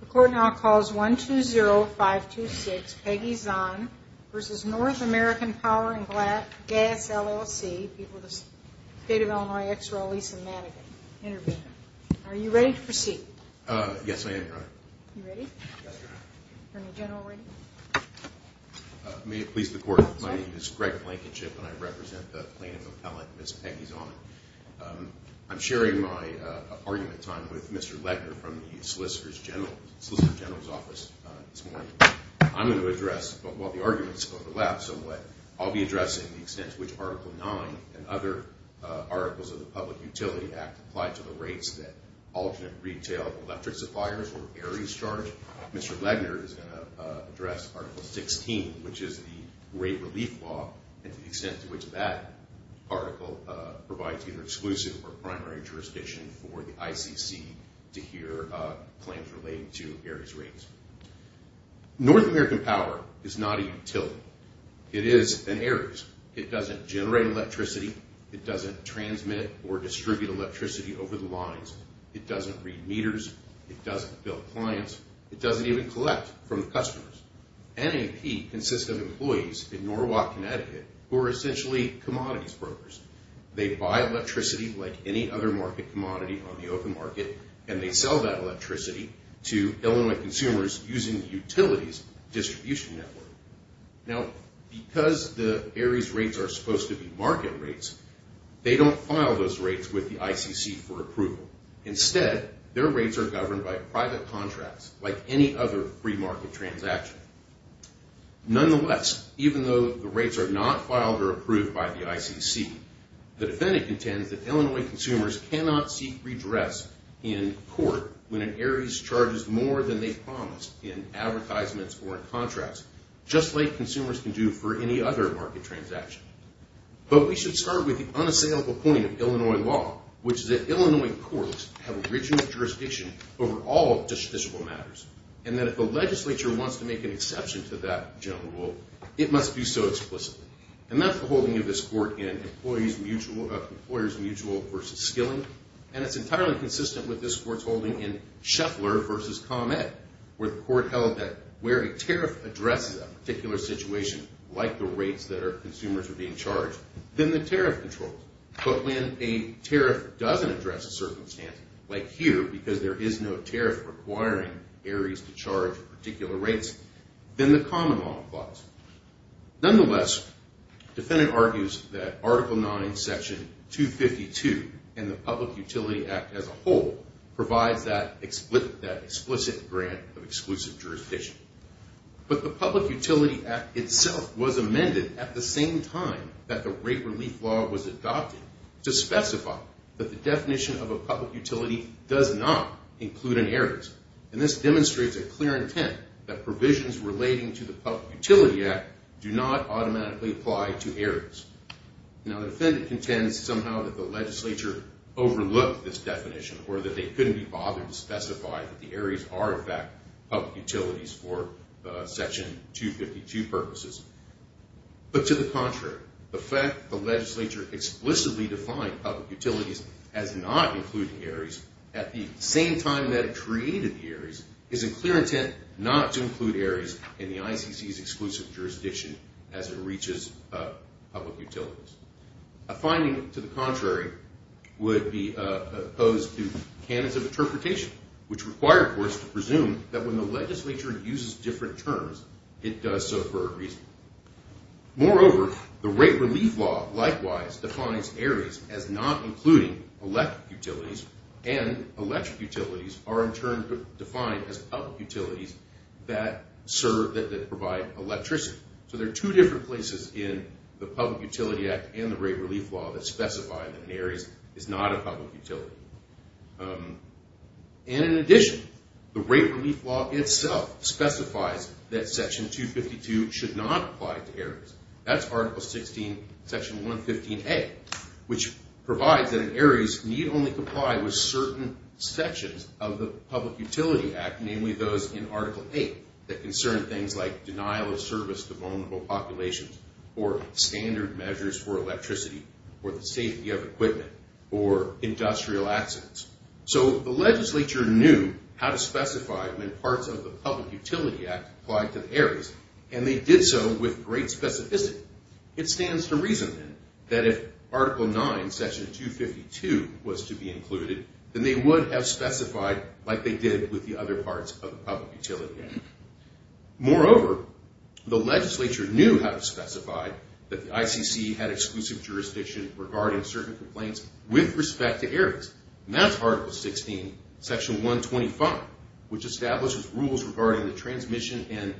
The court now calls 120-526 Peggy Zahn v. North American Power & Gas, LLC People of the State of Illinois, Ex-Royal Lisa Madigan Intervene Are you ready to proceed? Yes, I am, Your Honor You ready? Yes, Your Honor Attorney General ready? May it please the Court My name is Greg Blankenship and I represent the plaintiff appellant, Ms. Peggy Zahn I'm sharing my argument time with Mr. Legner from the Solicitor General's Office this morning I'm going to address, while the arguments overlap somewhat, I'll be addressing the extent to which Article 9 and other articles of the Public Utility Act apply to the rates that alternate retail electric suppliers or airies charge Mr. Legner is going to address Article 16, which is the rate relief law, and the extent to which that article provides either exclusive or primary jurisdiction for the ICC to hear claims relating to airies rates North American Power is not a utility It is an airies It doesn't generate electricity It doesn't transmit or distribute electricity over the lines It doesn't read meters It doesn't bill clients It doesn't even collect from the customers NAP consists of employees in Norwalk, Connecticut, who are essentially commodities brokers They buy electricity, like any other market commodity on the open market, and they sell that electricity to Illinois consumers using the utilities distribution network Now, because the airies rates are supposed to be market rates, they don't file those rates with the ICC for approval Instead, their rates are governed by private contracts, like any other free market transaction Nonetheless, even though the rates are not filed or approved by the ICC, the defendant contends that Illinois consumers cannot seek redress in court when an aries charges more than they promised in advertisements or in contracts, just like consumers can do for any other market transaction But we should start with the unassailable point of Illinois law, which is that Illinois courts have original jurisdiction over all justiciable matters And that if the legislature wants to make an exception to that general rule, it must do so explicitly And that's the holding of this court in Employers Mutual v. Skilling And it's entirely consistent with this court's holding in Scheffler v. ComEd, where the court held that where a tariff addresses a particular situation, like the rates that our consumers are being charged, then the tariff controls But when a tariff doesn't address a circumstance, like here, because there is no tariff requiring aries to charge particular rates, then the common law applies Nonetheless, the defendant argues that Article 9, Section 252, and the Public Utility Act as a whole, provides that explicit grant of exclusive jurisdiction But the Public Utility Act itself was amended at the same time that the rate relief law was adopted to specify that the definition of a public utility does not include an aries And this demonstrates a clear intent that provisions relating to the Public Utility Act do not automatically apply to aries Now the defendant contends somehow that the legislature overlooked this definition, or that they couldn't be bothered to specify that the aries are in fact public utilities for Section 252 purposes But to the contrary, the fact that the legislature explicitly defined public utilities as not including aries at the same time that it created the aries, is in clear intent not to include aries in the ICC's exclusive jurisdiction as it reaches public utilities A finding to the contrary would be opposed to canons of interpretation, which require courts to presume that when the legislature uses different terms, it does so for a reason Moreover, the rate relief law likewise defines aries as not including electric utilities, and electric utilities are in turn defined as public utilities that provide electricity So there are two different places in the Public Utility Act and the rate relief law that specify that aries is not a public utility And in addition, the rate relief law itself specifies that Section 252 should not apply to aries That's Article 16, Section 115A, which provides that aries need only comply with certain sections of the Public Utility Act, namely those in Article 8, that concern things like denial of service to vulnerable populations, or standard measures for electricity, or the safety of equipment, or industrial accidents So the legislature knew how to specify when parts of the Public Utility Act applied to aries, and they did so with great specificity It stands to reason, then, that if Article 9, Section 252 was to be included, then they would have specified like they did with the other parts of the Public Utility Act Moreover, the legislature knew how to specify that the ICC had exclusive jurisdiction regarding certain complaints with respect to aries And that's Article 16, Section 125, which establishes rules regarding the transmission and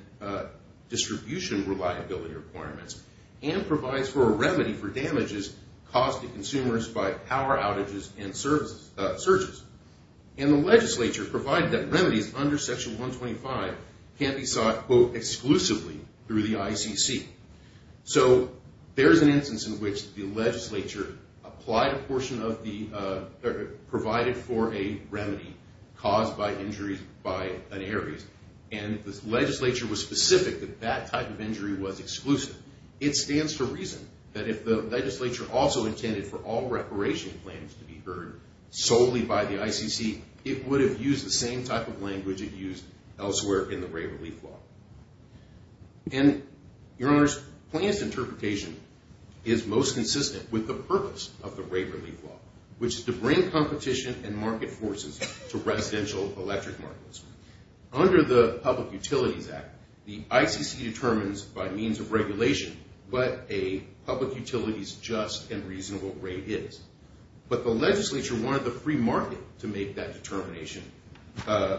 distribution reliability requirements, and provides for a remedy for damages caused to consumers by power outages and surges And the legislature provided that remedies under Section 125 can't be sought, quote, exclusively through the ICC So there's an instance in which the legislature provided for a remedy caused by injuries by an aries, and the legislature was specific that that type of injury was exclusive It stands to reason that if the legislature also intended for all reparation plans to be heard solely by the ICC, it would have used the same type of language it used elsewhere in the rate relief law And, your honors, plans interpretation is most consistent with the purpose of the rate relief law, which is to bring competition and market forces to residential electric markets Under the Public Utilities Act, the ICC determines by means of regulation what a public utility's just and reasonable rate is But the legislature wanted the free market to make that determination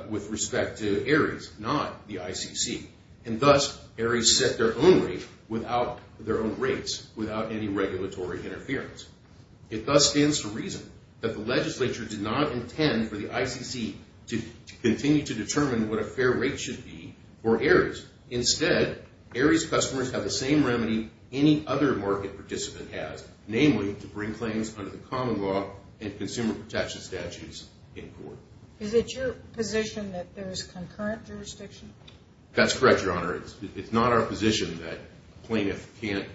with respect to aries, not the ICC And thus, aries set their own rates without any regulatory interference It thus stands to reason that the legislature did not intend for the ICC to continue to determine what a fair rate should be for aries Instead, aries customers have the same remedy any other market participant has, namely, to bring claims under the common law and consumer protection statutes in court Is it your position that there is concurrent jurisdiction? That's correct, your honor. It's not our position that a plaintiff can't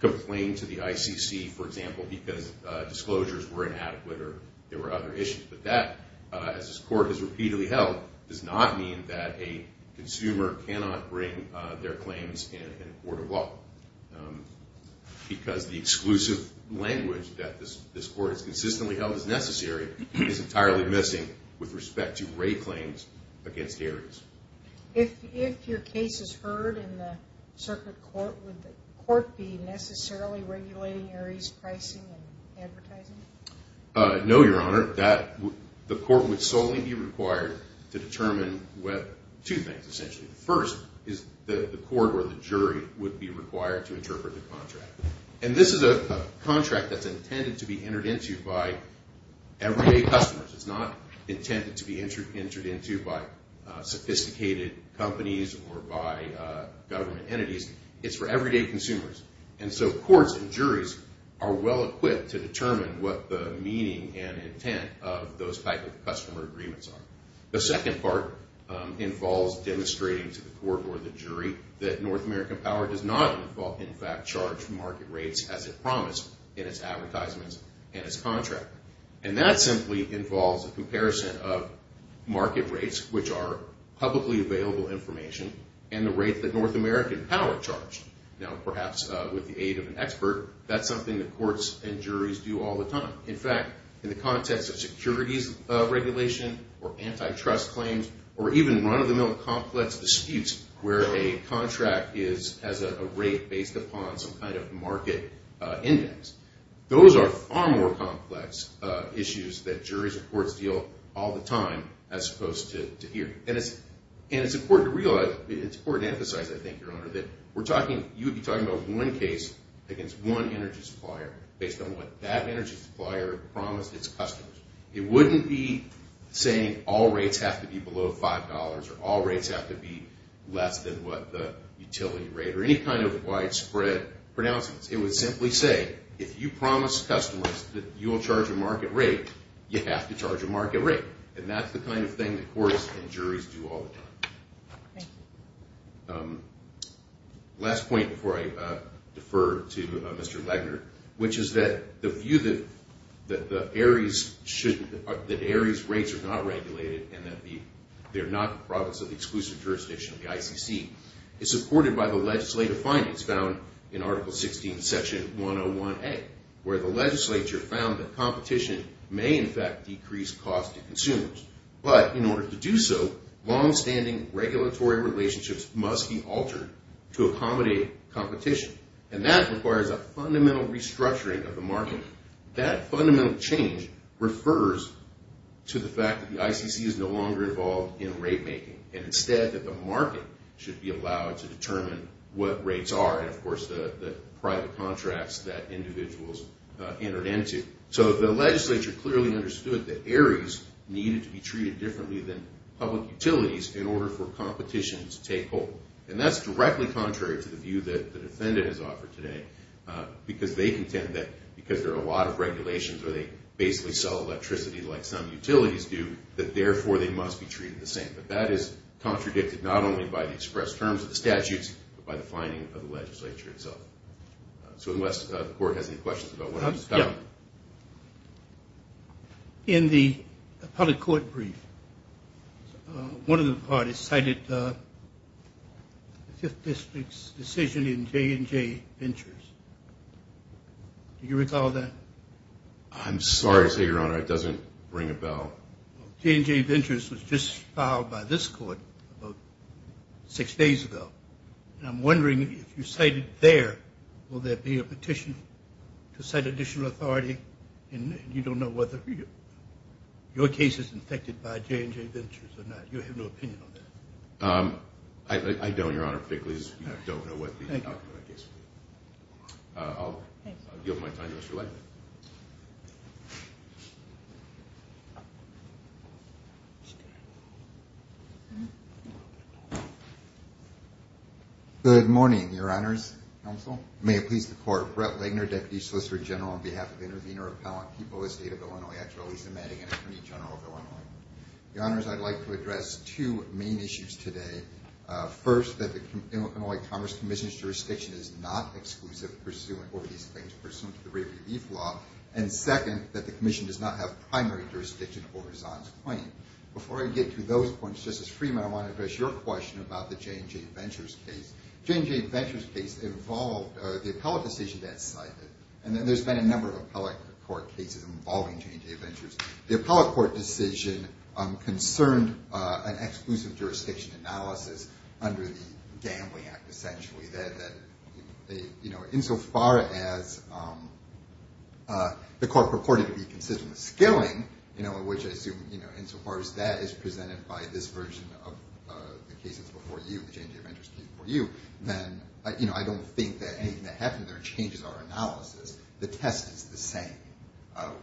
complain to the ICC, for example, because disclosures were inadequate or there were other issues But that, as this court has repeatedly held, does not mean that a consumer cannot bring their claims in a court of law Because the exclusive language that this court has consistently held is necessary is entirely missing with respect to rate claims against aries If your case is heard in the circuit court, would the court be necessarily regulating aries pricing and advertising? No, your honor. The court would solely be required to determine two things, essentially The first is the court or the jury would be required to interpret the contract And this is a contract that's intended to be entered into by everyday customers It's not intended to be entered into by sophisticated companies or by government entities It's for everyday consumers And so courts and juries are well-equipped to determine what the meaning and intent of those type of customer agreements are The second part involves demonstrating to the court or the jury that North American Power does not, in fact, charge market rates as it promised in its advertisements and its contract And that simply involves a comparison of market rates, which are publicly available information, and the rate that North American Power charged Now, perhaps with the aid of an expert, that's something that courts and juries do all the time In fact, in the context of securities regulation or antitrust claims or even run-of-the-mill complex disputes where a contract has a rate based upon some kind of market index Those are far more complex issues that juries and courts deal all the time as opposed to here And it's important to realize, it's important to emphasize, I think, Your Honor, that you would be talking about one case against one energy supplier based on what that energy supplier promised its customers It wouldn't be saying all rates have to be below $5 or all rates have to be less than what the utility rate or any kind of widespread pronouncements It would simply say, if you promise customers that you will charge a market rate, you have to charge a market rate And that's the kind of thing that courts and juries do all the time Last point before I defer to Mr. Legner, which is that the view that Aries rates are not regulated and that they're not the province of the exclusive jurisdiction of the ICC is supported by the legislative findings found in Article 16, Section 101A, where the legislature found that competition may in fact decrease cost to consumers But in order to do so, long-standing regulatory relationships must be altered to accommodate competition And that requires a fundamental restructuring of the market That fundamental change refers to the fact that the ICC is no longer involved in rate making And instead that the market should be allowed to determine what rates are and of course the private contracts that individuals entered into So the legislature clearly understood that Aries needed to be treated differently than public utilities in order for competition to take hold And that's directly contrary to the view that the defendant has offered today Because they contend that because there are a lot of regulations where they basically sell electricity like some utilities do That therefore they must be treated the same But that is contradicted not only by the express terms of the statutes, but by the finding of the legislature itself So unless the court has any questions about what I just talked about In the public court brief, one of the parties cited the 5th District's decision in J&J Ventures Do you recall that? I'm sorry to say, Your Honor, it doesn't ring a bell J&J Ventures was just filed by this court about six days ago And I'm wondering if you cited there, will there be a petition to cite additional authority? And you don't know whether your case is infected by J&J Ventures or not, you have no opinion on that I don't, Your Honor, particularly as we don't know what the outcome of the case will be I'll yield my time to Mr. Langton Good morning, Your Honors, Counsel May it please the Court, Brett Lagner, Deputy Solicitor General on behalf of the Intervenor Appellant, People of the State of Illinois Actually, Lisa Madigan, Attorney General of Illinois Your Honors, I'd like to address two main issues today First, that the Illinois Commerce Commission's jurisdiction is not exclusive over these claims pursuant to the rate relief law And second, that the Commission does not have primary jurisdiction over Zahn's claim Before I get to those points, Justice Freeman, I want to address your question about the J&J Ventures case J&J Ventures case involved the appellate decision that's cited And there's been a number of appellate court cases involving J&J Ventures The appellate court decision concerned an exclusive jurisdiction analysis under the Gambling Act, essentially Insofar as the court purported to be consistent with skilling, which I assume insofar as that is presented by this version of the cases before you The J&J Ventures case before you, then I don't think anything that happened there changes our analysis The test is the same,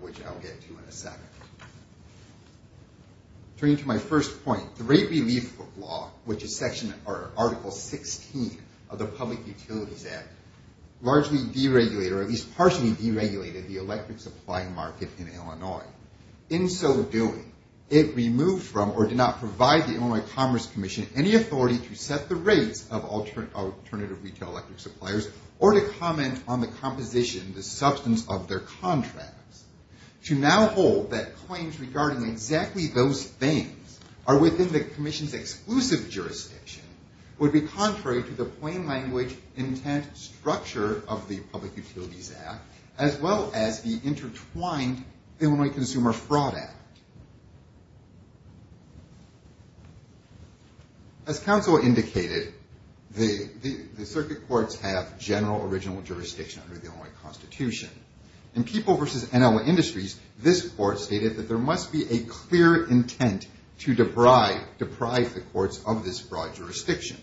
which I'll get to in a second Turning to my first point, the rate relief law, which is Article 16 of the Public Utilities Act Largely deregulated, or at least partially deregulated the electric supply market in Illinois In so doing, it removed from or did not provide the Illinois Commerce Commission any authority to set the rates of alternative retail electric suppliers Or to comment on the composition, the substance of their contracts To now hold that claims regarding exactly those things are within the Commission's exclusive jurisdiction Would be contrary to the plain language intent structure of the Public Utilities Act As well as the intertwined Illinois Consumer Fraud Act As counsel indicated, the circuit courts have general original jurisdiction under the Illinois Constitution In People v. Illinois Industries, this court stated that there must be a clear intent to deprive the courts of this broad jurisdiction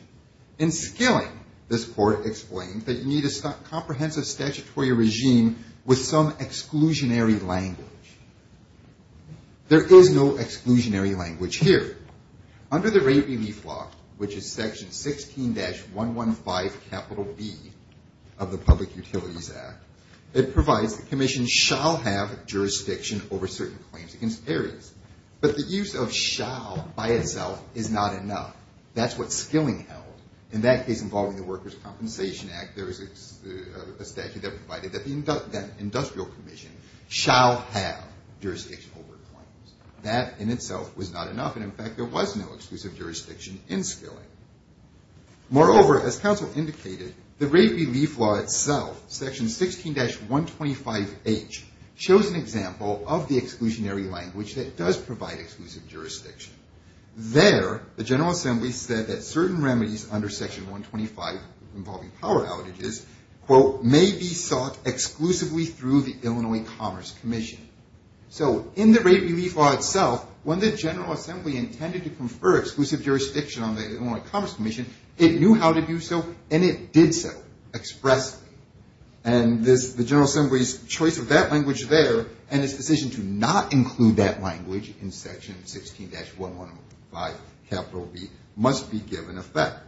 In skilling, this court explained that you need a comprehensive statutory regime with some exclusionary language There is no exclusionary language here Under the rate relief law, which is Section 16-115 capital B of the Public Utilities Act It provides that commissions shall have jurisdiction over certain claims against areas But the use of shall by itself is not enough That's what skilling held. In that case involving the Workers' Compensation Act There is a statute that provided that the industrial commission shall have jurisdiction over claims That in itself was not enough, and in fact there was no exclusive jurisdiction in skilling Moreover, as counsel indicated, the rate relief law itself, Section 16-125H Shows an example of the exclusionary language that does provide exclusive jurisdiction There, the General Assembly said that certain remedies under Section 125 involving power outages May be sought exclusively through the Illinois Commerce Commission So in the rate relief law itself, when the General Assembly intended to confer exclusive jurisdiction on the Illinois Commerce Commission It knew how to do so, and it did so expressly And the General Assembly's choice of that language there And its decision to not include that language in Section 16-115 capital B must be given effect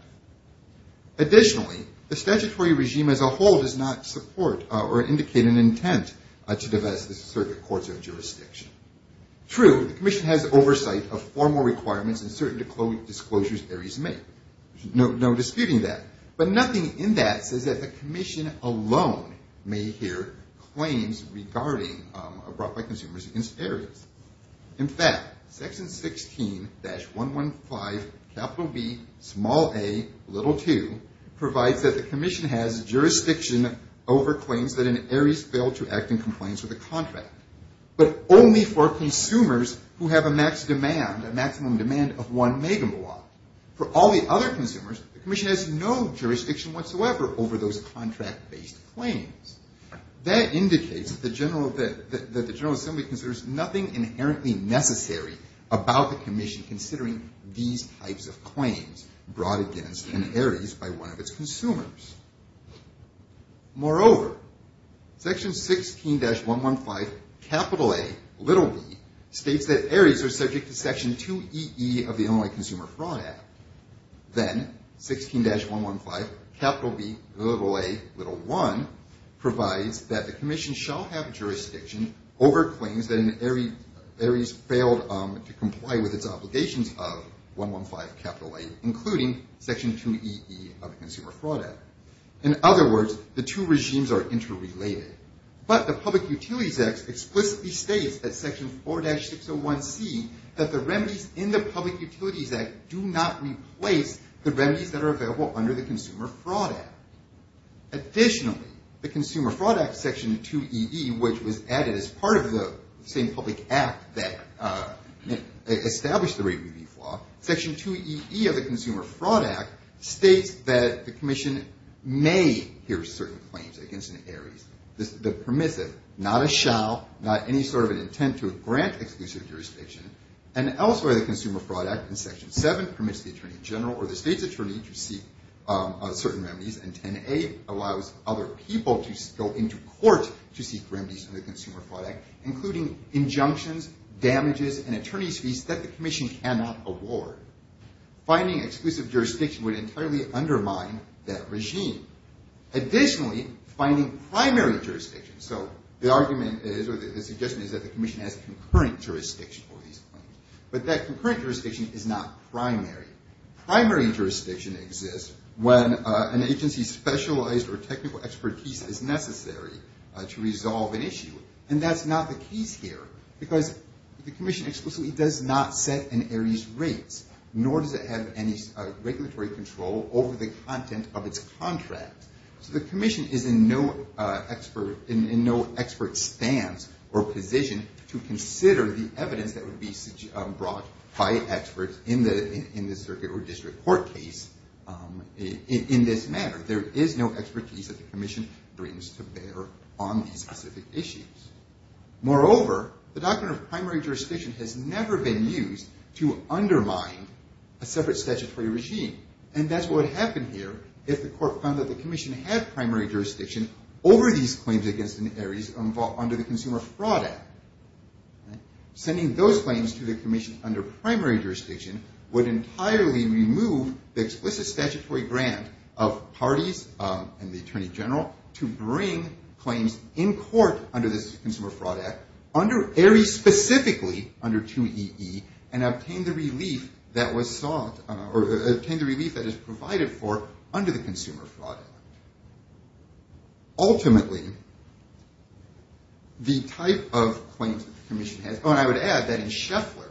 Additionally, the statutory regime as a whole does not support or indicate an intent to divest the circuit courts of jurisdiction True, the commission has oversight of formal requirements and certain disclosures areas make No disputing that, but nothing in that says that the commission alone may hear claims regarding Brought by consumers against areas In fact, Section 16-115 capital B, small a, little 2 Provides that the commission has jurisdiction over claims that an area has failed to act in compliance with a contract But only for consumers who have a max demand, a maximum demand of one megawatt For all the other consumers, the commission has no jurisdiction whatsoever over those contract-based claims That indicates that the General Assembly considers nothing inherently necessary about the commission Considering these types of claims brought against an areas by one of its consumers Moreover, Section 16-115 capital A, little B states that areas are subject to Section 2EE of the Illinois Consumer Fraud Act Then, 16-115 capital B, little a, little 1 provides that the commission shall have jurisdiction over claims That an area has failed to comply with its obligations of 115 capital A, including Section 2EE of the Consumer Fraud Act In other words, the two regimes are interrelated But the Public Utilities Act explicitly states that Section 4-601C That the remedies in the Public Utilities Act do not replace the remedies that are available under the Consumer Fraud Act Additionally, the Consumer Fraud Act, Section 2EE, which was added as part of the same public act that established the Rate Relief Law Section 2EE of the Consumer Fraud Act states that the commission may hear certain claims against an areas The permissive, not a shall, not any sort of an intent to grant exclusive jurisdiction And elsewhere, the Consumer Fraud Act in Section 7 permits the Attorney General or the state's attorney to seek certain remedies And 10A allows other people to go into court to seek remedies in the Consumer Fraud Act Including injunctions, damages, and attorney's fees that the commission cannot award Finding exclusive jurisdiction would entirely undermine that regime Additionally, finding primary jurisdiction So the argument is or the suggestion is that the commission has concurrent jurisdiction for these claims But that concurrent jurisdiction is not primary Primary jurisdiction exists when an agency's specialized or technical expertise is necessary to resolve an issue And that's not the case here Because the commission explicitly does not set an area's rates Nor does it have any regulatory control over the content of its contract So the commission is in no expert stance or position to consider the evidence that would be brought by experts In the circuit or district court case in this matter There is no expertise that the commission brings to bear on these specific issues Moreover, the doctrine of primary jurisdiction has never been used to undermine a separate statutory regime And that's what would happen here if the court found that the commission had primary jurisdiction Over these claims against an area under the Consumer Fraud Act Sending those claims to the commission under primary jurisdiction Would entirely remove the explicit statutory grant of parties and the Attorney General To bring claims in court under this Consumer Fraud Act Under area specifically under 2EE And obtain the relief that was sought Or obtain the relief that is provided for under the Consumer Fraud Act Ultimately, the type of claims that the commission has Oh and I would add that in Scheffler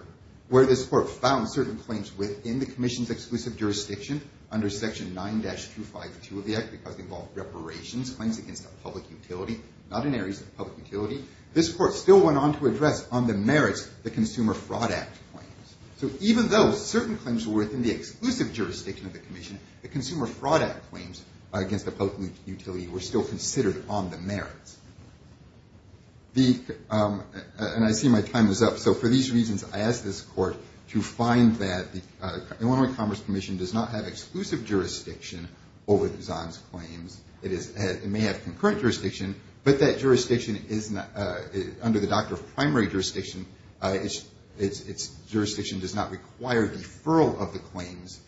Where this court found certain claims within the commission's exclusive jurisdiction Under Section 9-252 of the Act Because they involved reparations, claims against a public utility Not in areas of public utility This court still went on to address on the merits the Consumer Fraud Act claims So even though certain claims were within the exclusive jurisdiction of the commission The Consumer Fraud Act claims against a public utility were still considered on the merits And I see my time is up So for these reasons, I ask this court to find that The Illinois Commerce Commission does not have exclusive jurisdiction over Zahn's claims It may have concurrent jurisdiction But that jurisdiction is not Under the doctor of primary jurisdiction Its jurisdiction does not require deferral of the claims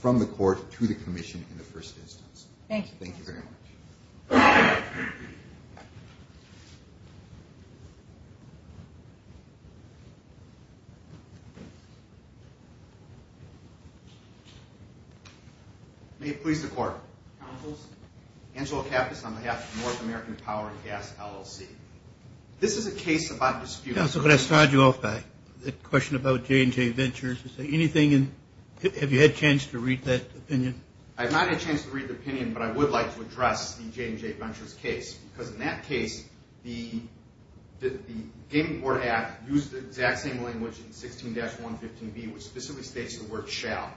From the court to the commission in the first instance Thank you Thank you very much May it please the court Counsels Angelo Kappas on behalf of the North American Power and Gas LLC This is a case about dispute Counsel, can I start you off by The question about J&J Ventures Is there anything in Have you had a chance to read that opinion? I have not had a chance to read the opinion But I would like to address the J&J Ventures case Because in that case The Gaming Board Act used the exact same language in 16-115B Which specifically states the word shall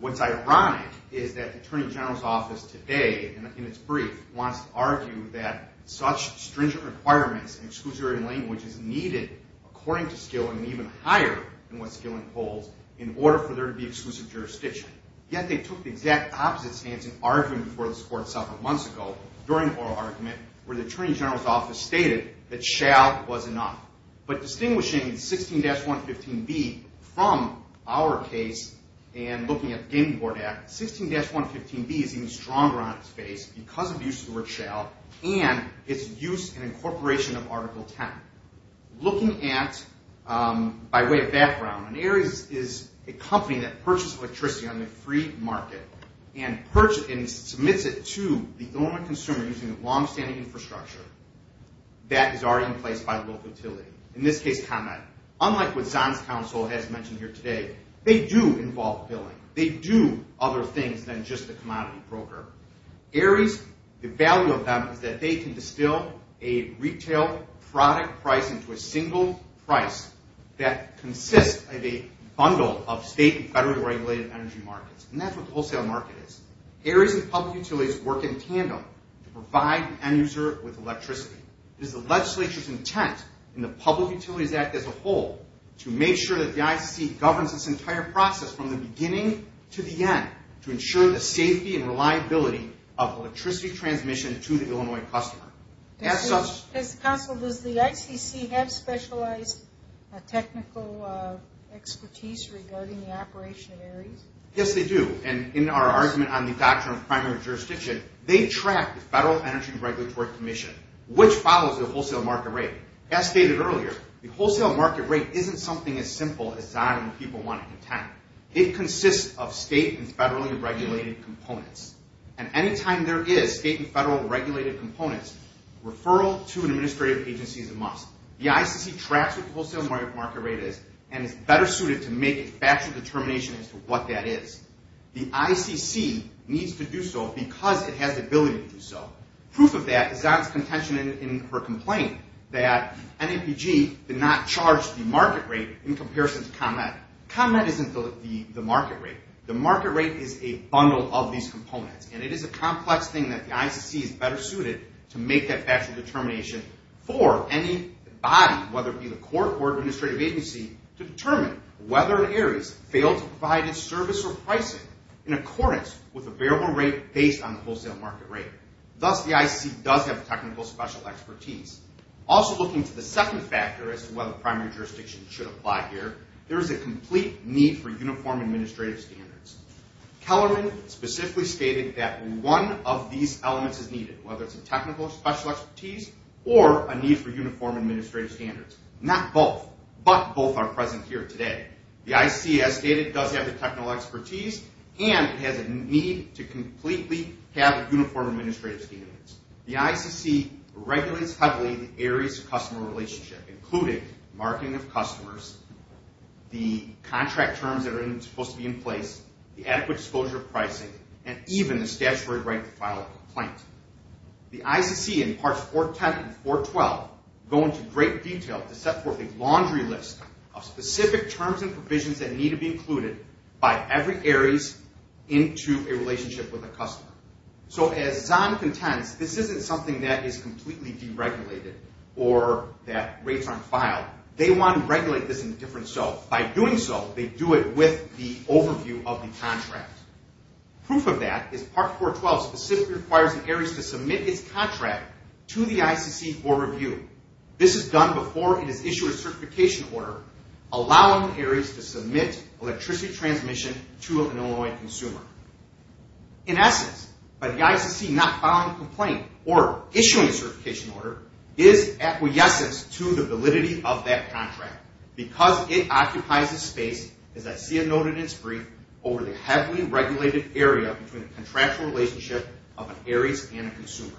What's ironic is that The Attorney General's Office today In its brief Wants to argue that Such stringent requirements In exclusionary language is needed According to Skilling And even higher than what Skilling holds In order for there to be exclusive jurisdiction Yet they took the exact opposite stance In arguing before this court several months ago During the oral argument Where the Attorney General's Office stated That shall was enough But distinguishing 16-115B From our case And looking at the Gaming Board Act 16-115B is even stronger on its face Because of use of the word shall And its use and incorporation of Article 10 Looking at By way of background When Ares is a company That purchases electricity On the free market And submits it to the normal consumer Using the long-standing infrastructure That is already in place by the local utility In this case, Conrad Unlike what Zahn's counsel has mentioned here today They do involve billing They do other things than just the commodity broker Ares, the value of them Is that they can distill A retail product price Into a single price That consists of a bundle Of state and federal regulated energy markets And that's what the wholesale market is Ares and public utilities work in tandem To provide the end user with electricity It is the legislature's intent In the Public Utilities Act as a whole To make sure that the ICC Governs this entire process From the beginning to the end To ensure the safety and reliability Of electricity transmission To the Illinois customer As such As counsel, does the ICC Have specialized technical expertise Regarding the operation of Ares? Yes, they do And in our argument On the doctrine of primary jurisdiction They track the Federal Energy Regulatory Commission Which follows the wholesale market rate As stated earlier The wholesale market rate Isn't something as simple As Zahn and the people want to contend It consists of state And federally regulated components And anytime there is State and federal regulated components Referral to an administrative agency is a must The ICC tracks what the wholesale market rate is And is better suited To make a factual determination As to what that is The ICC needs to do so Because it has the ability to do so Proof of that Is Zahn's contention in her complaint That NAPG did not charge the market rate In comparison to ComEd ComEd isn't the market rate The market rate is a bundle of these components And it is a complex thing That the ICC is better suited To make that factual determination For any body Whether it be the court Or administrative agency To determine whether Ares Failed to provide its service or pricing In accordance with the variable rate Based on the wholesale market rate Thus the ICC does have Technical special expertise Also looking to the second factor As to whether primary jurisdiction Should apply here There is a complete need For uniform administrative standards Kellerman specifically stated That one of these elements is needed Whether it's a technical special expertise Or a need for uniform administrative standards Not both But both are present here today The ICC as stated Does have the technical expertise And has a need to completely Have uniform administrative standards The ICC regulates heavily The Ares customer relationship Including marketing of customers The contract terms That are supposed to be in place The adequate disclosure of pricing And even the statutory right To file a complaint The ICC in parts 410 and 412 Go into great detail To set forth a laundry list Of specific terms and provisions That need to be included By every Ares Into a relationship with a customer So as Zahn contends This isn't something that is Completely deregulated Or that rates aren't filed They want to regulate this In a different so By doing so They do it with the overview Of the contract Proof of that Is part 412 specifically requires An Ares to submit its contract To the ICC for review This is done before It is issued a certification order Allowing Ares to submit Electricity transmission To an Illinois consumer In essence By the ICC not filing a complaint Or issuing a certification order Is acquiescence to the validity Of that contract Because it occupies a space As I see a note in its brief Over the heavily regulated area Between a contractual relationship Of an Ares and a consumer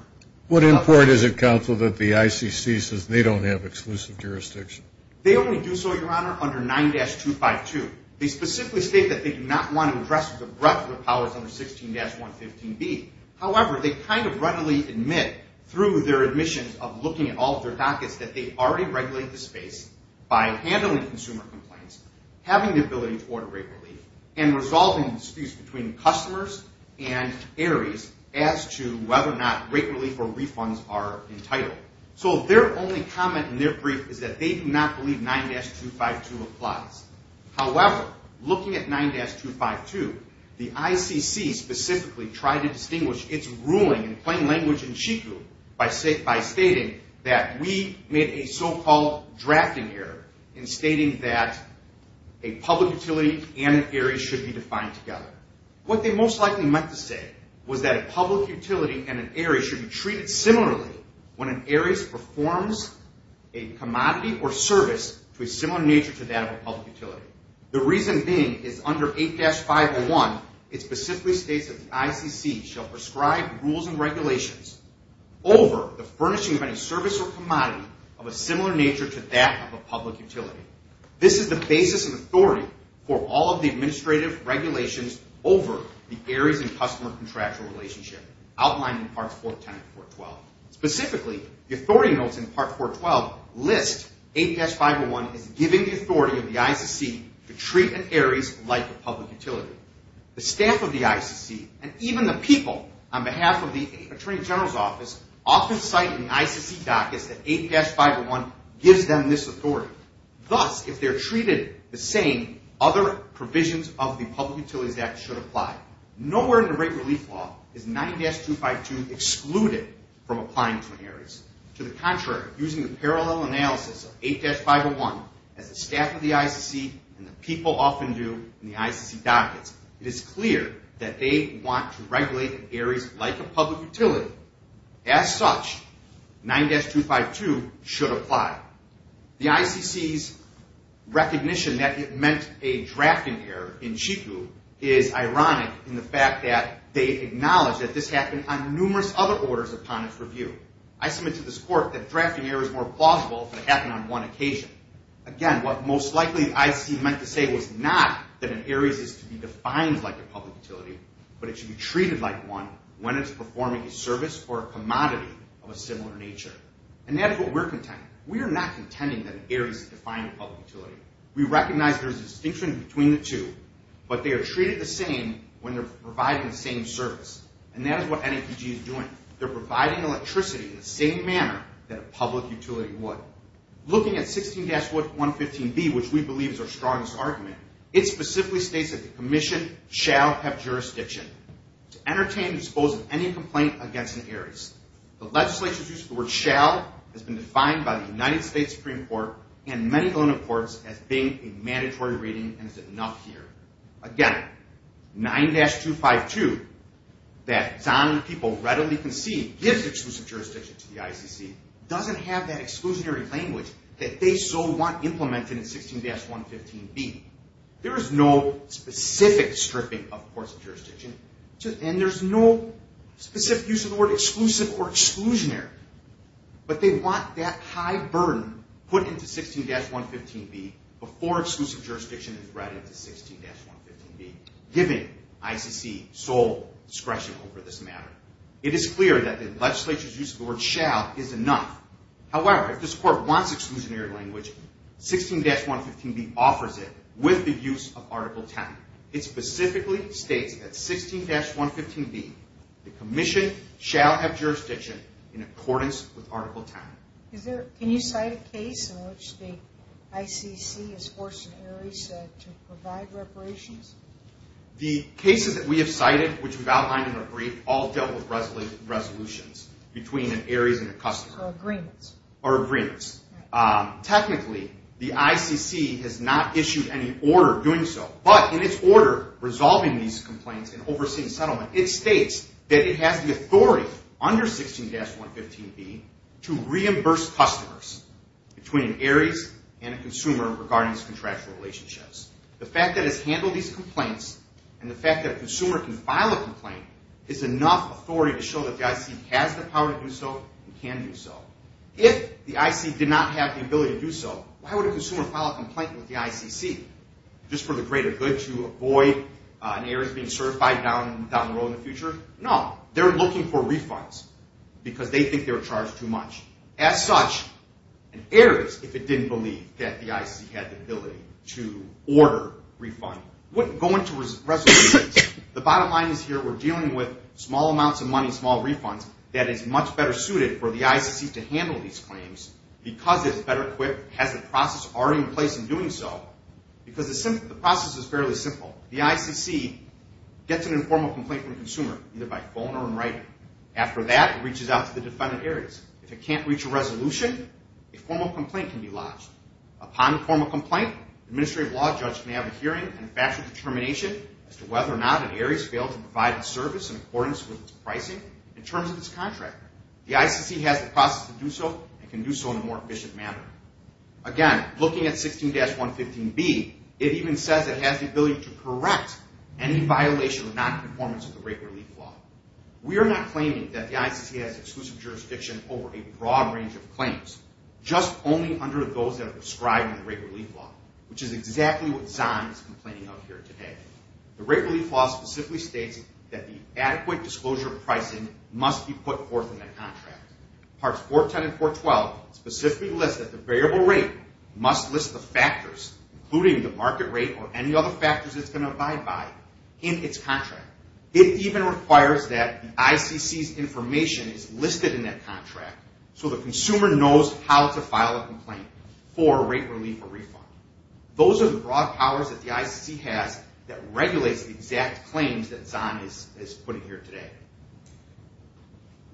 What import is it counsel That the ICC says They don't have exclusive jurisdiction They only do so your honor Under 9-252 They specifically state That they do not want to address The breadth of the powers Under 16-115B However they kind of readily admit Through their admissions Of looking at all of their dockets That they already regulate the space By handling consumer complaints Having the ability To order rate relief And resolving disputes Between customers and Ares As to whether or not Rate relief or refunds are entitled So their only comment In their brief Is that they do not believe 9-252 applies However Looking at 9-252 The ICC specifically Tried to distinguish Its ruling in plain language In Chico By stating that We made a so-called Drafting error In stating that A public utility And an Ares Should be defined together What they most likely meant to say Was that a public utility And an Ares Should be treated similarly When an Ares performs A commodity or service To a similar nature To that of a public utility The reason being Is under 8-501 It specifically states That the ICC Shall prescribe rules and regulations Over the furnishing Of any service or commodity Of a similar nature To that of a public utility This is the basis of authority For all of the administrative regulations Over the Ares and customer Contractual relationship Outlined in parts 410 and 412 Specifically The authority notes in part 412 List 8-501 As giving the authority Of the ICC To treat an Ares Like a public utility The staff of the ICC And even the people On behalf of the Attorney General's office Often cite in the ICC dockets That 8-501 Gives them this authority Thus, if they're treated the same Other provisions of the Public Utilities Act should apply Nowhere in the rate relief law Is 9-252 Excluded from applying to an Ares To the contrary Using the parallel analysis Of 8-501 As the staff of the ICC And the people often do In the ICC dockets It is clear that they want To regulate an Ares Like a public utility As such 9-252 should apply The ICC's recognition That it meant a drafting error In Chico Is ironic in the fact that They acknowledge that this happened On numerous other orders Upon its review I submit to this court That drafting error is more plausible If it happened on one occasion Again, what most likely The ICC meant to say Was not that an Ares Is to be defined like a public utility But it should be treated like one When it's performing a service Or a commodity of a similar nature And that is what we're contending We are not contending That an Ares is defined As a public utility We recognize there is A distinction between the two But they are treated the same When they're providing The same service And that is what NAPG is doing They're providing electricity In the same manner That a public utility would Looking at 16-115B Which we believe Is our strongest argument It specifically states That the commission Shall have jurisdiction To entertain and dispose Of any complaint against an Ares The legislation's use Of the word shall Has been defined By the United States Supreme Court And many other courts As being a mandatory reading And is enough here Again, 9-252 That Zahn and people readily concede Gives exclusive jurisdiction To the ICC Doesn't have that Exclusionary language That they so want implemented In 16-115B There is no specific stripping Of courts and jurisdiction And there's no specific use Of the word exclusive Or exclusionary But they want that high burden Put into 16-115B Before exclusive jurisdiction Is read into 16-115B Giving ICC sole discretion Over this matter It is clear that the legislature's Use of the word shall Is enough However, if this court Wants exclusionary language 16-115B offers it With the use of Article 10 It specifically states That 16-115B The commission shall have jurisdiction In accordance with Article 10 Can you cite a case In which the ICC Has forced an Ares To provide reparations? The cases that we have cited Which we've outlined in our brief All dealt with resolutions Between an Ares and a customer Or agreements Technically, the ICC Has not issued any order doing so But in its order Resolving these complaints And overseeing settlement It states that it has the authority Under 16-115B To reimburse customers Between an Ares and a consumer The fact that it's handled these complaints And the fact that a consumer Can file a complaint Is enough authority to show That the ICC has the power to do so And can do so If the ICC did not have the ability to do so Why would a consumer file a complaint with the ICC? Just for the greater good To avoid an Ares being certified Down the road in the future? No, they're looking for refunds Because they think they were charged too much As such, an Ares If it didn't believe that the ICC Had the ability to order Refund wouldn't go into resolutions The bottom line is here We're dealing with small amounts of money Small refunds that is much better suited For the ICC to handle these claims Because it's better equipped Has the process already in place in doing so Because the process is fairly simple The ICC gets an informal complaint From the consumer Either by phone or in writing After that, it reaches out to the defendant Ares If it can't reach a resolution A formal complaint can be lodged Upon a formal complaint Finally, the administrative law judge Can have a hearing and factual determination As to whether or not an Ares failed to provide A service in accordance with its pricing In terms of its contractor The ICC has the process to do so And can do so in a more efficient manner Again, looking at 16-115B It even says it has the ability to correct Any violation or non-conformance Of the rate relief law We are not claiming that the ICC Has exclusive jurisdiction over a broad range of claims Just only under those That are described in the rate relief law Which is exactly what Zahn is complaining of here today The rate relief law specifically states That the adequate disclosure of pricing Must be put forth in the contract Parts 410 and 412 Specifically list that the variable rate Must list the factors Including the market rate Or any other factors it's going to abide by In its contract It even requires that the ICC's information Is listed in that contract So the consumer knows How to file a complaint For rate relief or refund Those are the broad powers that the ICC has That regulates the exact claims That Zahn is putting here today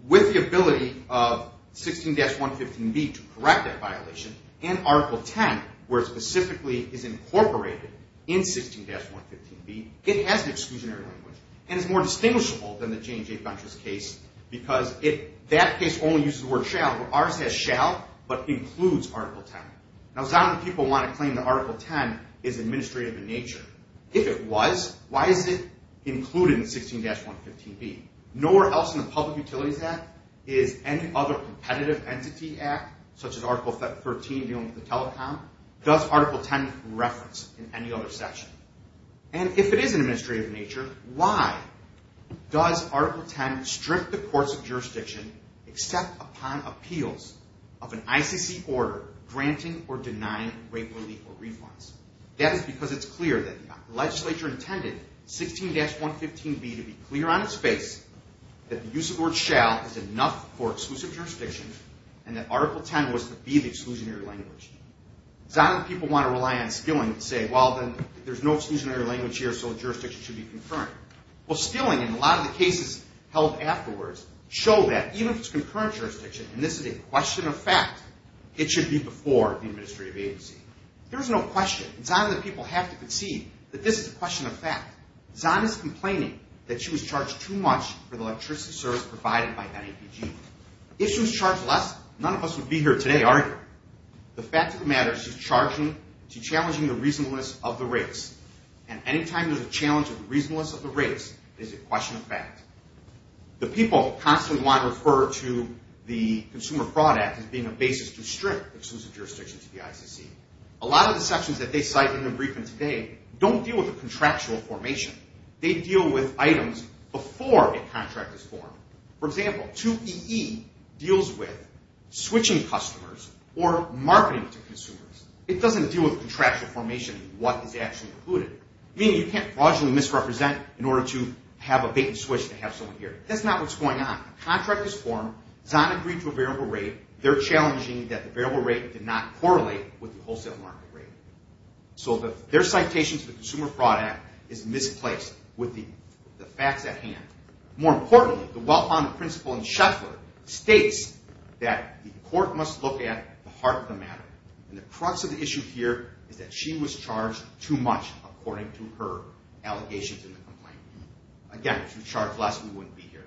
With the ability of 16-115B to correct that violation And Article 10 Where it specifically is incorporated In 16-115B It has the exclusionary language And is more distinguishable than the J&J Bunches case Because that case only uses The word shall, where ours has shall But includes Article 10 Now Zahn and people want to claim that Article 10 Is administrative in nature If it was, why is it included In 16-115B? Nowhere else in the Public Utilities Act Is any other competitive entity Act, such as Article 13 Dealing with the telecom Does Article 10 reference in any other section? And if it is administrative In nature, why Does Article 10 strip the courts Of jurisdiction, except upon Appeals of an ICC Order granting or denying Rape relief or refunds? That is because it is clear that the legislature Intended 16-115B To be clear on its face That the use of the word shall is enough For exclusive jurisdiction And that Article 10 was to be the exclusionary language Zahn and people want to rely On Skilling to say, well then There is no exclusionary language here, so the jurisdiction should be confirmed Well Skilling, in a lot of the Claims held afterwards, show that Even if it is concurrent jurisdiction, and this is a question of fact It should be before The administrative agency There is no question, and Zahn and the people have to concede That this is a question of fact Zahn is complaining that she was charged Too much for the electricity service Provided by NAPG If she was charged less, none of us would be here today, are we? The fact of the matter Is she is challenging the reasonableness Of the race, and any time There is a challenge of the reasonableness of the race Is a question of fact The people constantly want to refer to The Consumer Fraud Act As being a basis to strip exclusive jurisdiction To the ICC. A lot of the sections That they cite in their briefing today Don't deal with a contractual formation They deal with items Before a contract is formed For example, 2EE deals with Switching customers Or marketing to consumers It doesn't deal with contractual formation What is actually included Meaning you can't fraudulently misrepresent In order to have a vacant switch To have someone here. That's not what's going on A contract is formed, Zahn agreed to a variable rate They're challenging that the variable rate Did not correlate with the wholesale market rate So their Citation to the Consumer Fraud Act Is misplaced with the Facts at hand. More importantly The well-founded principle in Sheffler States that the court Must look at the heart of the matter And the crux of the issue here Is that she was charged too much According to her allegations In the complaint. Again, if she was charged less We wouldn't be here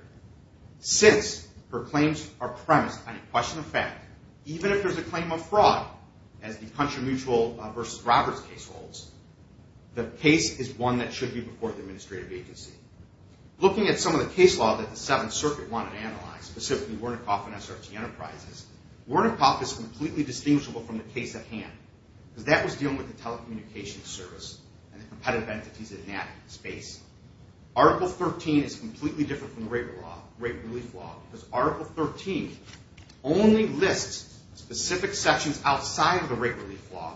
Since her claims are premised On a question of fact Even if there's a claim of fraud As the Country Mutual v. Roberts case holds The case is one That should be before the administrative agency Looking at some of the case law That the Seventh Circuit wanted analyzed Specifically Wernickehoff and SRT Enterprises Wernickehoff is completely distinguishable From the case at hand Because that was dealing with the telecommunications service And the competitive entities in that space Article 13 is completely Different from the rate relief law Because Article 13 Only lists specific Sections outside of the rate relief law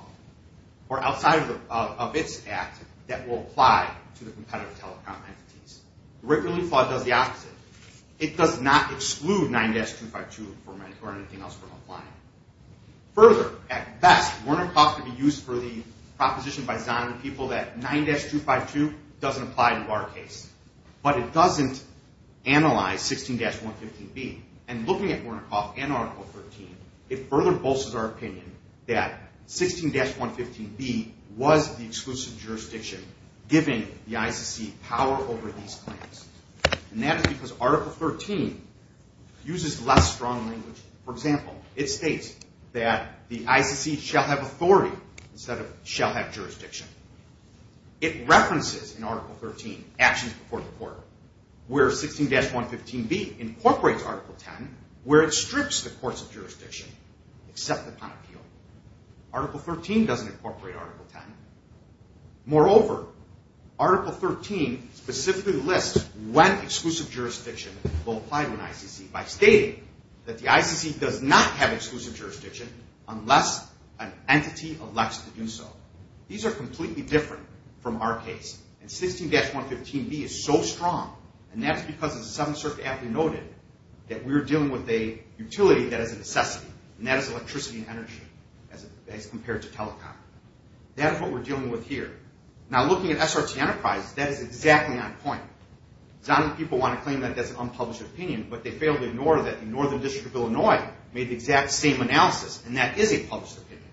Or outside of Its act that will apply To the competitive telecom entities The rate relief law does the opposite It does not exclude 9-252 or anything else From applying Further, at best, Wernickehoff can be used For the proposition by Zahn and people That 9-252 doesn't apply To our case But it doesn't analyze 16-115B And looking at Wernickehoff and Article 13 It further bolsters our opinion That 16-115B Was the exclusive jurisdiction Giving the ICC power Over these claims And that is because Article 13 Uses less strong language For example, it states That the ICC shall have authority Instead of shall have jurisdiction It references In Article 13 actions before the court Where 16-115B Incorporates Article 10 Where it strips the courts of jurisdiction Except upon appeal Article 13 doesn't incorporate Article 10 Moreover, Article 13 Specifically lists when An exclusive jurisdiction will apply To an ICC by stating That the ICC does not have exclusive jurisdiction Unless an entity Elects to do so These are completely different from our case And 16-115B is so strong And that's because As the Seventh Circuit aptly noted That we're dealing with a utility that is a necessity And that is electricity and energy As compared to telecom That is what we're dealing with here Now looking at SRT Enterprise That is exactly on point Some people want to claim that that's an unpublished opinion But they fail to ignore that the Northern District of Illinois Made the exact same analysis And that is a published opinion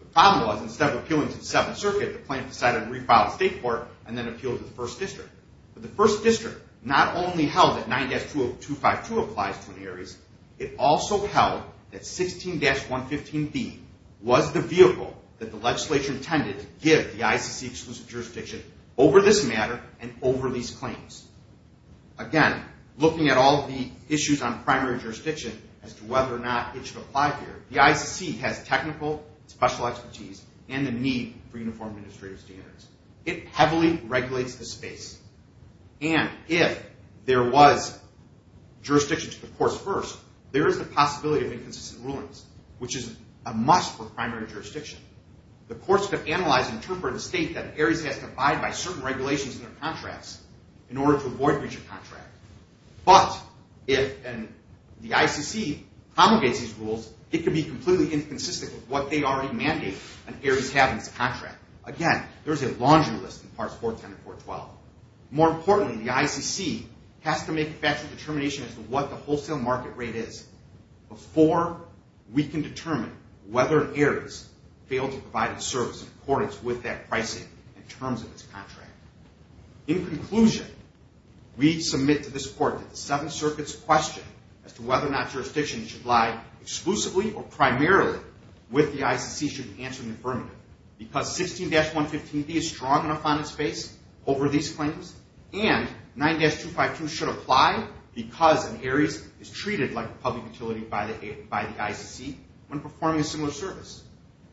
The problem was Instead of appealing to the Seventh Circuit The plaintiff decided to refile the State Court And then appeal to the First District But the First District not only held that 9-252 Applies to any areas It also held that 16-115B Was the vehicle That the legislature intended To give the ICC-exclusive jurisdiction Over this matter And over these claims Again, looking at all the issues On primary jurisdiction As to whether or not it should apply here The ICC has technical, special expertise And the need for uniform administrative standards It heavily regulates the space And if There was Jurisdiction to the courts first There is the possibility of inconsistent rulings Which is a must for primary jurisdiction The courts could analyze And interpret a state that areas have to abide by Certain regulations in their contracts In order to avoid breach of contract But if The ICC promulgates these rules It could be completely inconsistent With what they already mandate On areas having this contract Again, there is a laundry list in Parts 410 and 412 More importantly, the ICC Has to make a factual determination As to what the wholesale market rate is Before we can determine Whether areas fail to provide A service in accordance with that pricing In terms of its contract In conclusion We submit to this court That the Seventh Circuit's question As to whether or not jurisdiction should lie Exclusively or primarily With the ICC should be answered in affirmative Because 16-115B is strong enough On its face over these claims And 9-252 Should apply because An area is treated like a public utility By the ICC When performing a similar service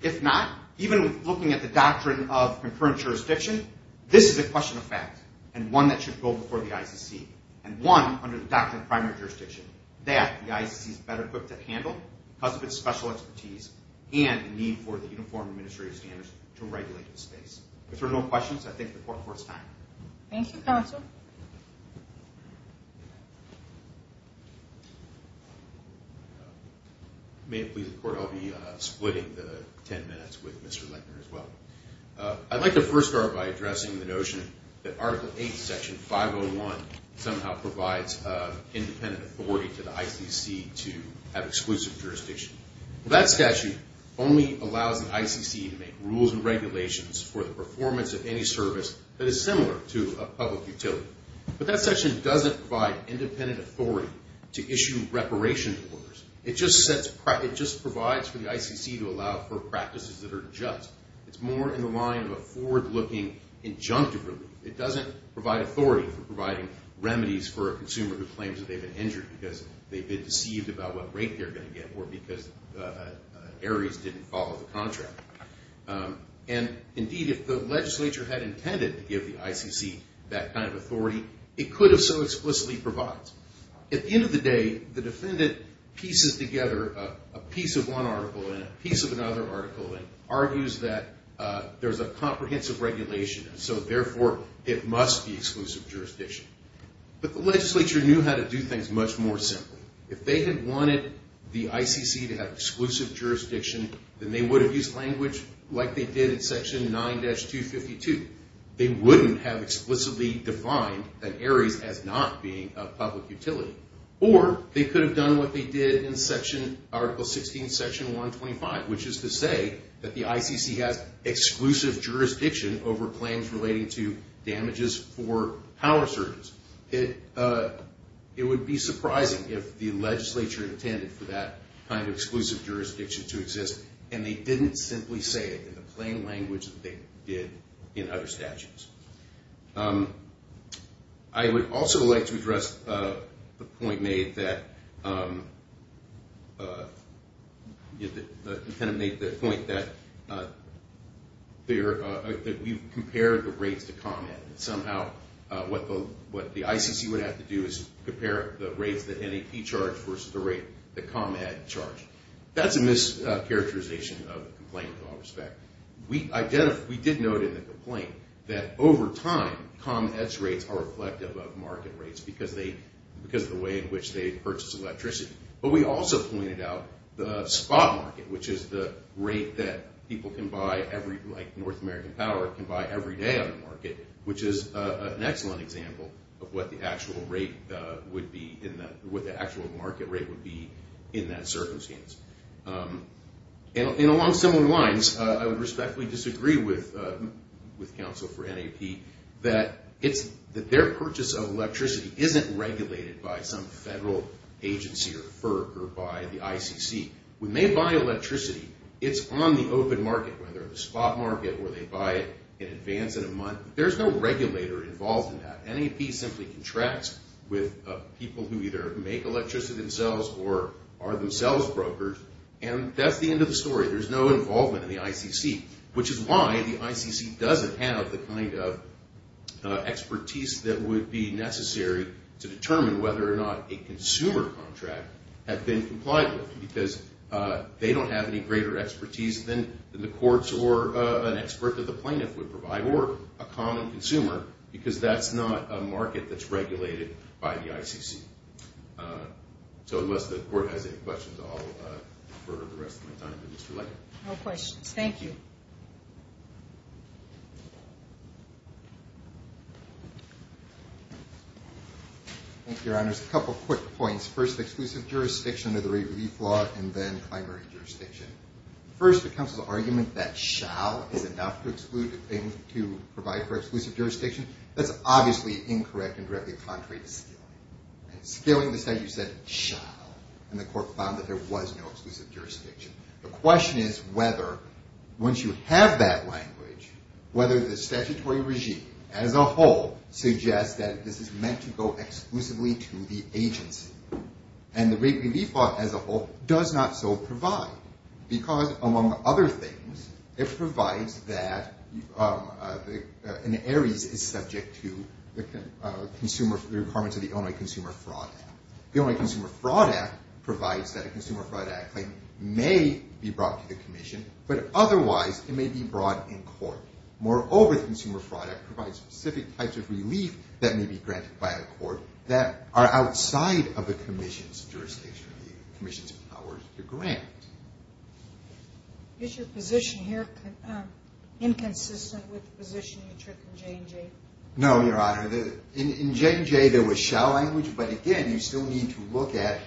If not, even with looking at the doctrine Of concurrent jurisdiction This is a question of fact And one that should go before the ICC And one under the doctrine of primary jurisdiction That the ICC is better equipped to handle Because of its special expertise And the need for the Uniform Administrative Standards If there are no questions, I thank the court for its time Thank you, Counsel May it please the court I'll be splitting the 10 minutes With Mr. Lentner as well I'd like to first start by addressing the notion That Article 8, Section 501 Somehow provides Independent authority to the ICC To have exclusive jurisdiction That statute Only allows the ICC to make rules And regulations for the performance of any service That is similar to a public utility But that section doesn't Provide independent authority To issue reparation orders It just provides For the ICC to allow for practices That are just It's more in the line of a forward-looking injunctive relief It doesn't provide authority For providing remedies for a consumer Who claims that they've been injured Because they've been deceived about what rate they're going to get Or because Ares didn't Follow the contract And indeed, if the legislature Had intended to give the ICC That kind of authority It could have so explicitly provided At the end of the day, the defendant Pieces together a piece Of one article and a piece of another article And argues that There's a comprehensive regulation And so therefore, it must be Exclusive jurisdiction But the legislature knew how to do things much more simply If they had wanted The ICC to have exclusive jurisdiction Then they would have used language Like they did in Section 9-252 They wouldn't have Explicitly defined Ares As not being a public utility Or they could have done what they did In Article 16 Section 125, which is to say That the ICC has exclusive Jurisdiction over claims relating To damages for Power surges It would be surprising if The legislature intended for that Kind of exclusive jurisdiction to exist And they didn't simply say it In the plain language that they did In other statutes I would also like to address The point made that The point that We've compared the rates To ComEd and somehow What the ICC would have to do Is compare the rates that NAP Charged versus the rate that ComEd Charged. That's a mischaracterization Of the complaint in all respects We did note in the Complaint that over time ComEd's rates are reflective of market Rates because of the way In which they purchase electricity But we also pointed out the spot Market, which is the rate that People can buy Like North American Power can buy everyday On the market, which is an excellent Example of what the actual rate Would be in that What the actual market rate would be in that Circumstance And along similar Lines, I would respectfully disagree With counsel for NAP That their Purchase of electricity isn't regulated By some federal agency Or FERC or by the ICC When they buy electricity It's on the open market Whether the spot market where they buy it In advance in a month, there's no regulator Involved in that. NAP simply Contracts with people who Either make electricity themselves or Are themselves brokers And that's the end of the story. There's no involvement In the ICC, which is why The ICC doesn't have the kind of Expertise that Would be necessary to determine Whether or not a consumer Contract had been complied with Because they don't have any greater Expertise than the courts or An expert that the plaintiff would provide Or a common consumer Because that's not a market that's regulated By the ICC So unless the court Has any questions, I'll defer The rest of my time to Mr. Leiker. No questions. Thank you. Thank you, your honors. A couple quick points. First, exclusive jurisdiction under the rate Relief law, and then primary jurisdiction. First, the counsel's argument That shall is enough to exclude A claim to provide for exclusive jurisdiction That's obviously incorrect And directly contrary to scaling. Scaling the statute said shall And the court found that there was no exclusive Jurisdiction. The question is whether Once you have that Language, whether the statutory Regime as a whole Suggests that this is meant to go Exclusively to the agency And the rate relief law as a whole Does not so provide Because among other things It provides that An Aries is Subject to the Requirements of the Illinois Consumer Fraud Act. The Illinois Consumer Fraud Act Provides that a Consumer Fraud Act claim May be brought to the commission But otherwise it may be brought In court. Moreover, the Consumer Fraud Act Provides specific types of relief That may be granted by a court That are outside of the commission's Jurisdiction. The commission's Powers to grant. Is your position here Inconsistent with Positioning the trick in J&J? No, Your Honor. In J&J There was shall language, but again You still need to look at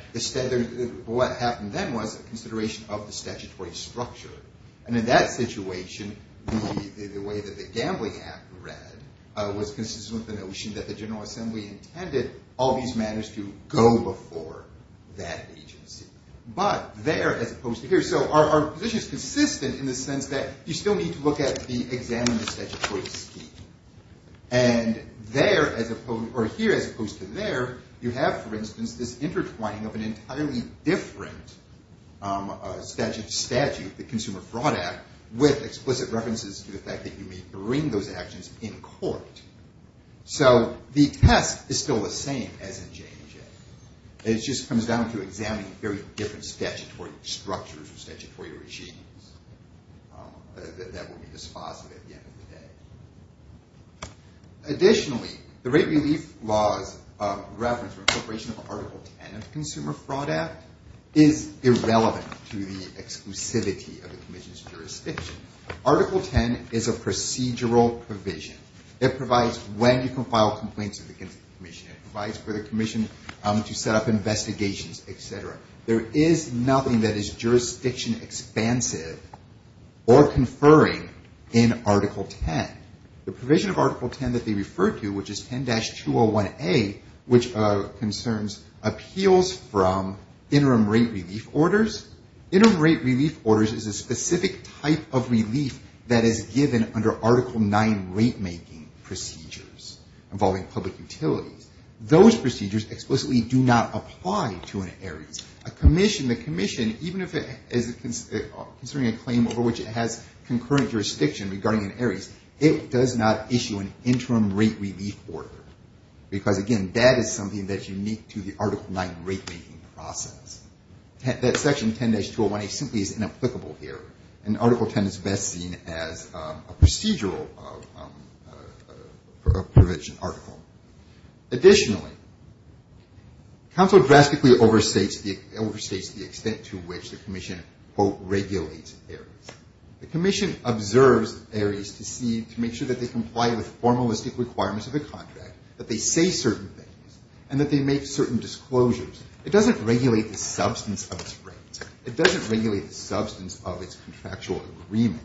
What happened then was Consideration of the statutory structure And in that situation The way that the gambling act read Was consistent with the notion That the General Assembly intended All these matters to go before That agency. But There as opposed to here. So Our position is consistent in the sense that You still need to look at and examine The statutory scheme. And there as opposed to Here as opposed to there, you have For instance this intertwining of an entirely Different Statute, the Consumer Fraud Act With explicit references To the fact that you may bring those actions In court. So The test is still the same As in J&J. It just Comes down to examining very different Statutory structures or statutory Schemes That will be dispositive at the end of the day. Additionally, the rate relief laws Reference for incorporation of Article 10 of the Consumer Fraud Act Is irrelevant to The exclusivity of the commission's Jurisdiction. Article 10 Is a procedural provision That provides when you can file Complaints against the commission. It provides for the Commission to set up investigations Etc. There is Nothing that is jurisdiction expansive Or conferring In Article 10. The provision of Article 10 that they refer To which is 10-201A Which concerns Appeals from interim Rate relief orders. Interim Rate relief orders is a specific type Of relief that is given Under Article 9 rate making Procedures involving public Utilities. Those procedures Explicitly do not apply to Arizona Aries. A commission, the commission Even if it is Considering a claim over which it has Concurrent jurisdiction regarding Aries It does not issue an interim rate Relief order. Because again That is something that is unique to the Article 9 rate making process. That section 10-201A Simply is inapplicable here. And Article 10 is best seen as A procedural Provision article. Additionally, Council Drastically overstates The extent to which the commission Regulates Aries. The commission observes Aries To make sure that they comply with Formalistic requirements of the contract. That they say certain things. And that they Make certain disclosures. It doesn't Regulate the substance of its rate. It doesn't regulate the substance of its Contractual agreement.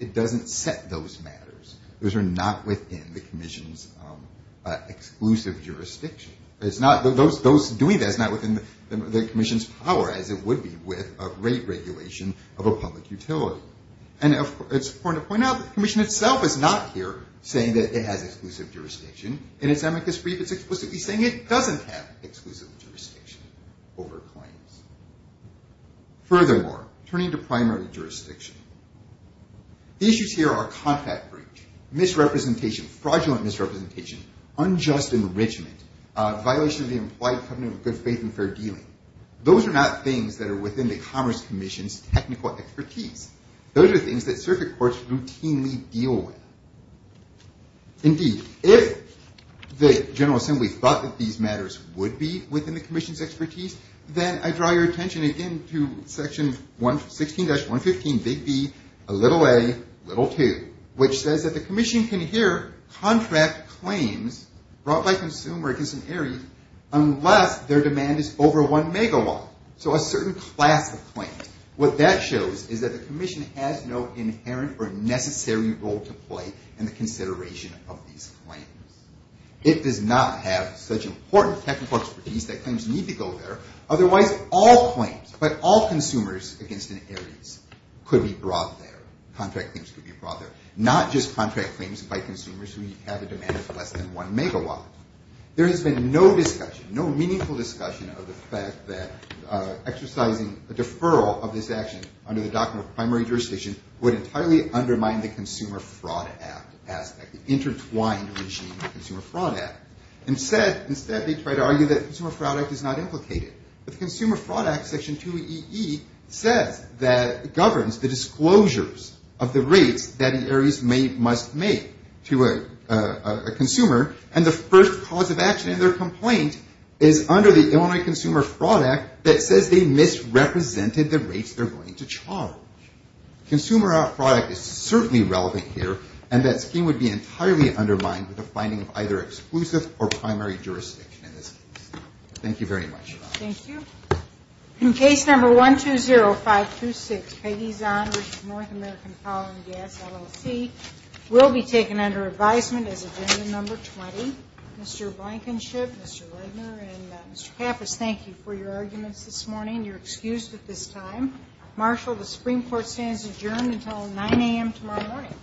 It doesn't set those matters. Those are not within the commission's Exclusive jurisdiction. Those doing that Is not within the commission's power As it would be with a rate regulation Of a public utility. And it's important to point out that the commission Itself is not here saying that it has Exclusive jurisdiction in its amicus brief. It's explicitly saying it doesn't have Exclusive jurisdiction over Claims. Furthermore, turning to primary jurisdiction The issues Here are contract breach, Misrepresentation, fraudulent misrepresentation, Unjust enrichment, Violation of the implied covenant of good faith And fair dealing. Those are not Things that are within the commerce commission's Technical expertise. Those are things that circuit courts routinely Deal with. Indeed, if The general assembly thought that these matters Would be within the commission's expertise, Then I draw your attention again to Section 16-115 Big B, a little a, Little two, which says that the commission Can hear contract claims Brought by consumer against an Aries unless their demand Is over one megawatt. So a certain class of claims. What that shows is that the commission has No inherent or necessary role To play in the consideration Of these claims. It does not have such important technical Expertise that claims need to go there. Otherwise, all claims by all Consumers against an Aries Could be brought there, contract claims Could be brought there, not just contract Claims by consumers who have a demand Of less than one megawatt. There has been no discussion, no meaningful Discussion of the fact that Exercising a deferral of this Action under the document of primary jurisdiction Would entirely undermine the consumer Fraud aspect, the intertwined Regime of the Consumer Fraud Act. Instead, they try to argue That the Consumer Fraud Act is not implicated. But the Consumer Fraud Act, Section 2EE Says that it governs The disclosures of the rates That an Aries must make To a consumer. And the first cause of action in their Complaint is under the Illinois Consumer Fraud Act that says they Misrepresented the rates they're going To charge. Consumer Fraud is certainly relevant here And that scheme would be entirely Undermined with the finding of either exclusive Or primary jurisdiction in this case. Thank you very much. Thank you. Case number 120526 Peggy Zahn, North American Power and Gas LLC Will be taken under advisement as Agenda number 20. Mr. Blankenship, Mr. Redner, and Mr. Kappas, thank you for your arguments This morning. You're excused at this time. Marshal, the Supreme Court stands Adjourned until 9 a.m. tomorrow morning.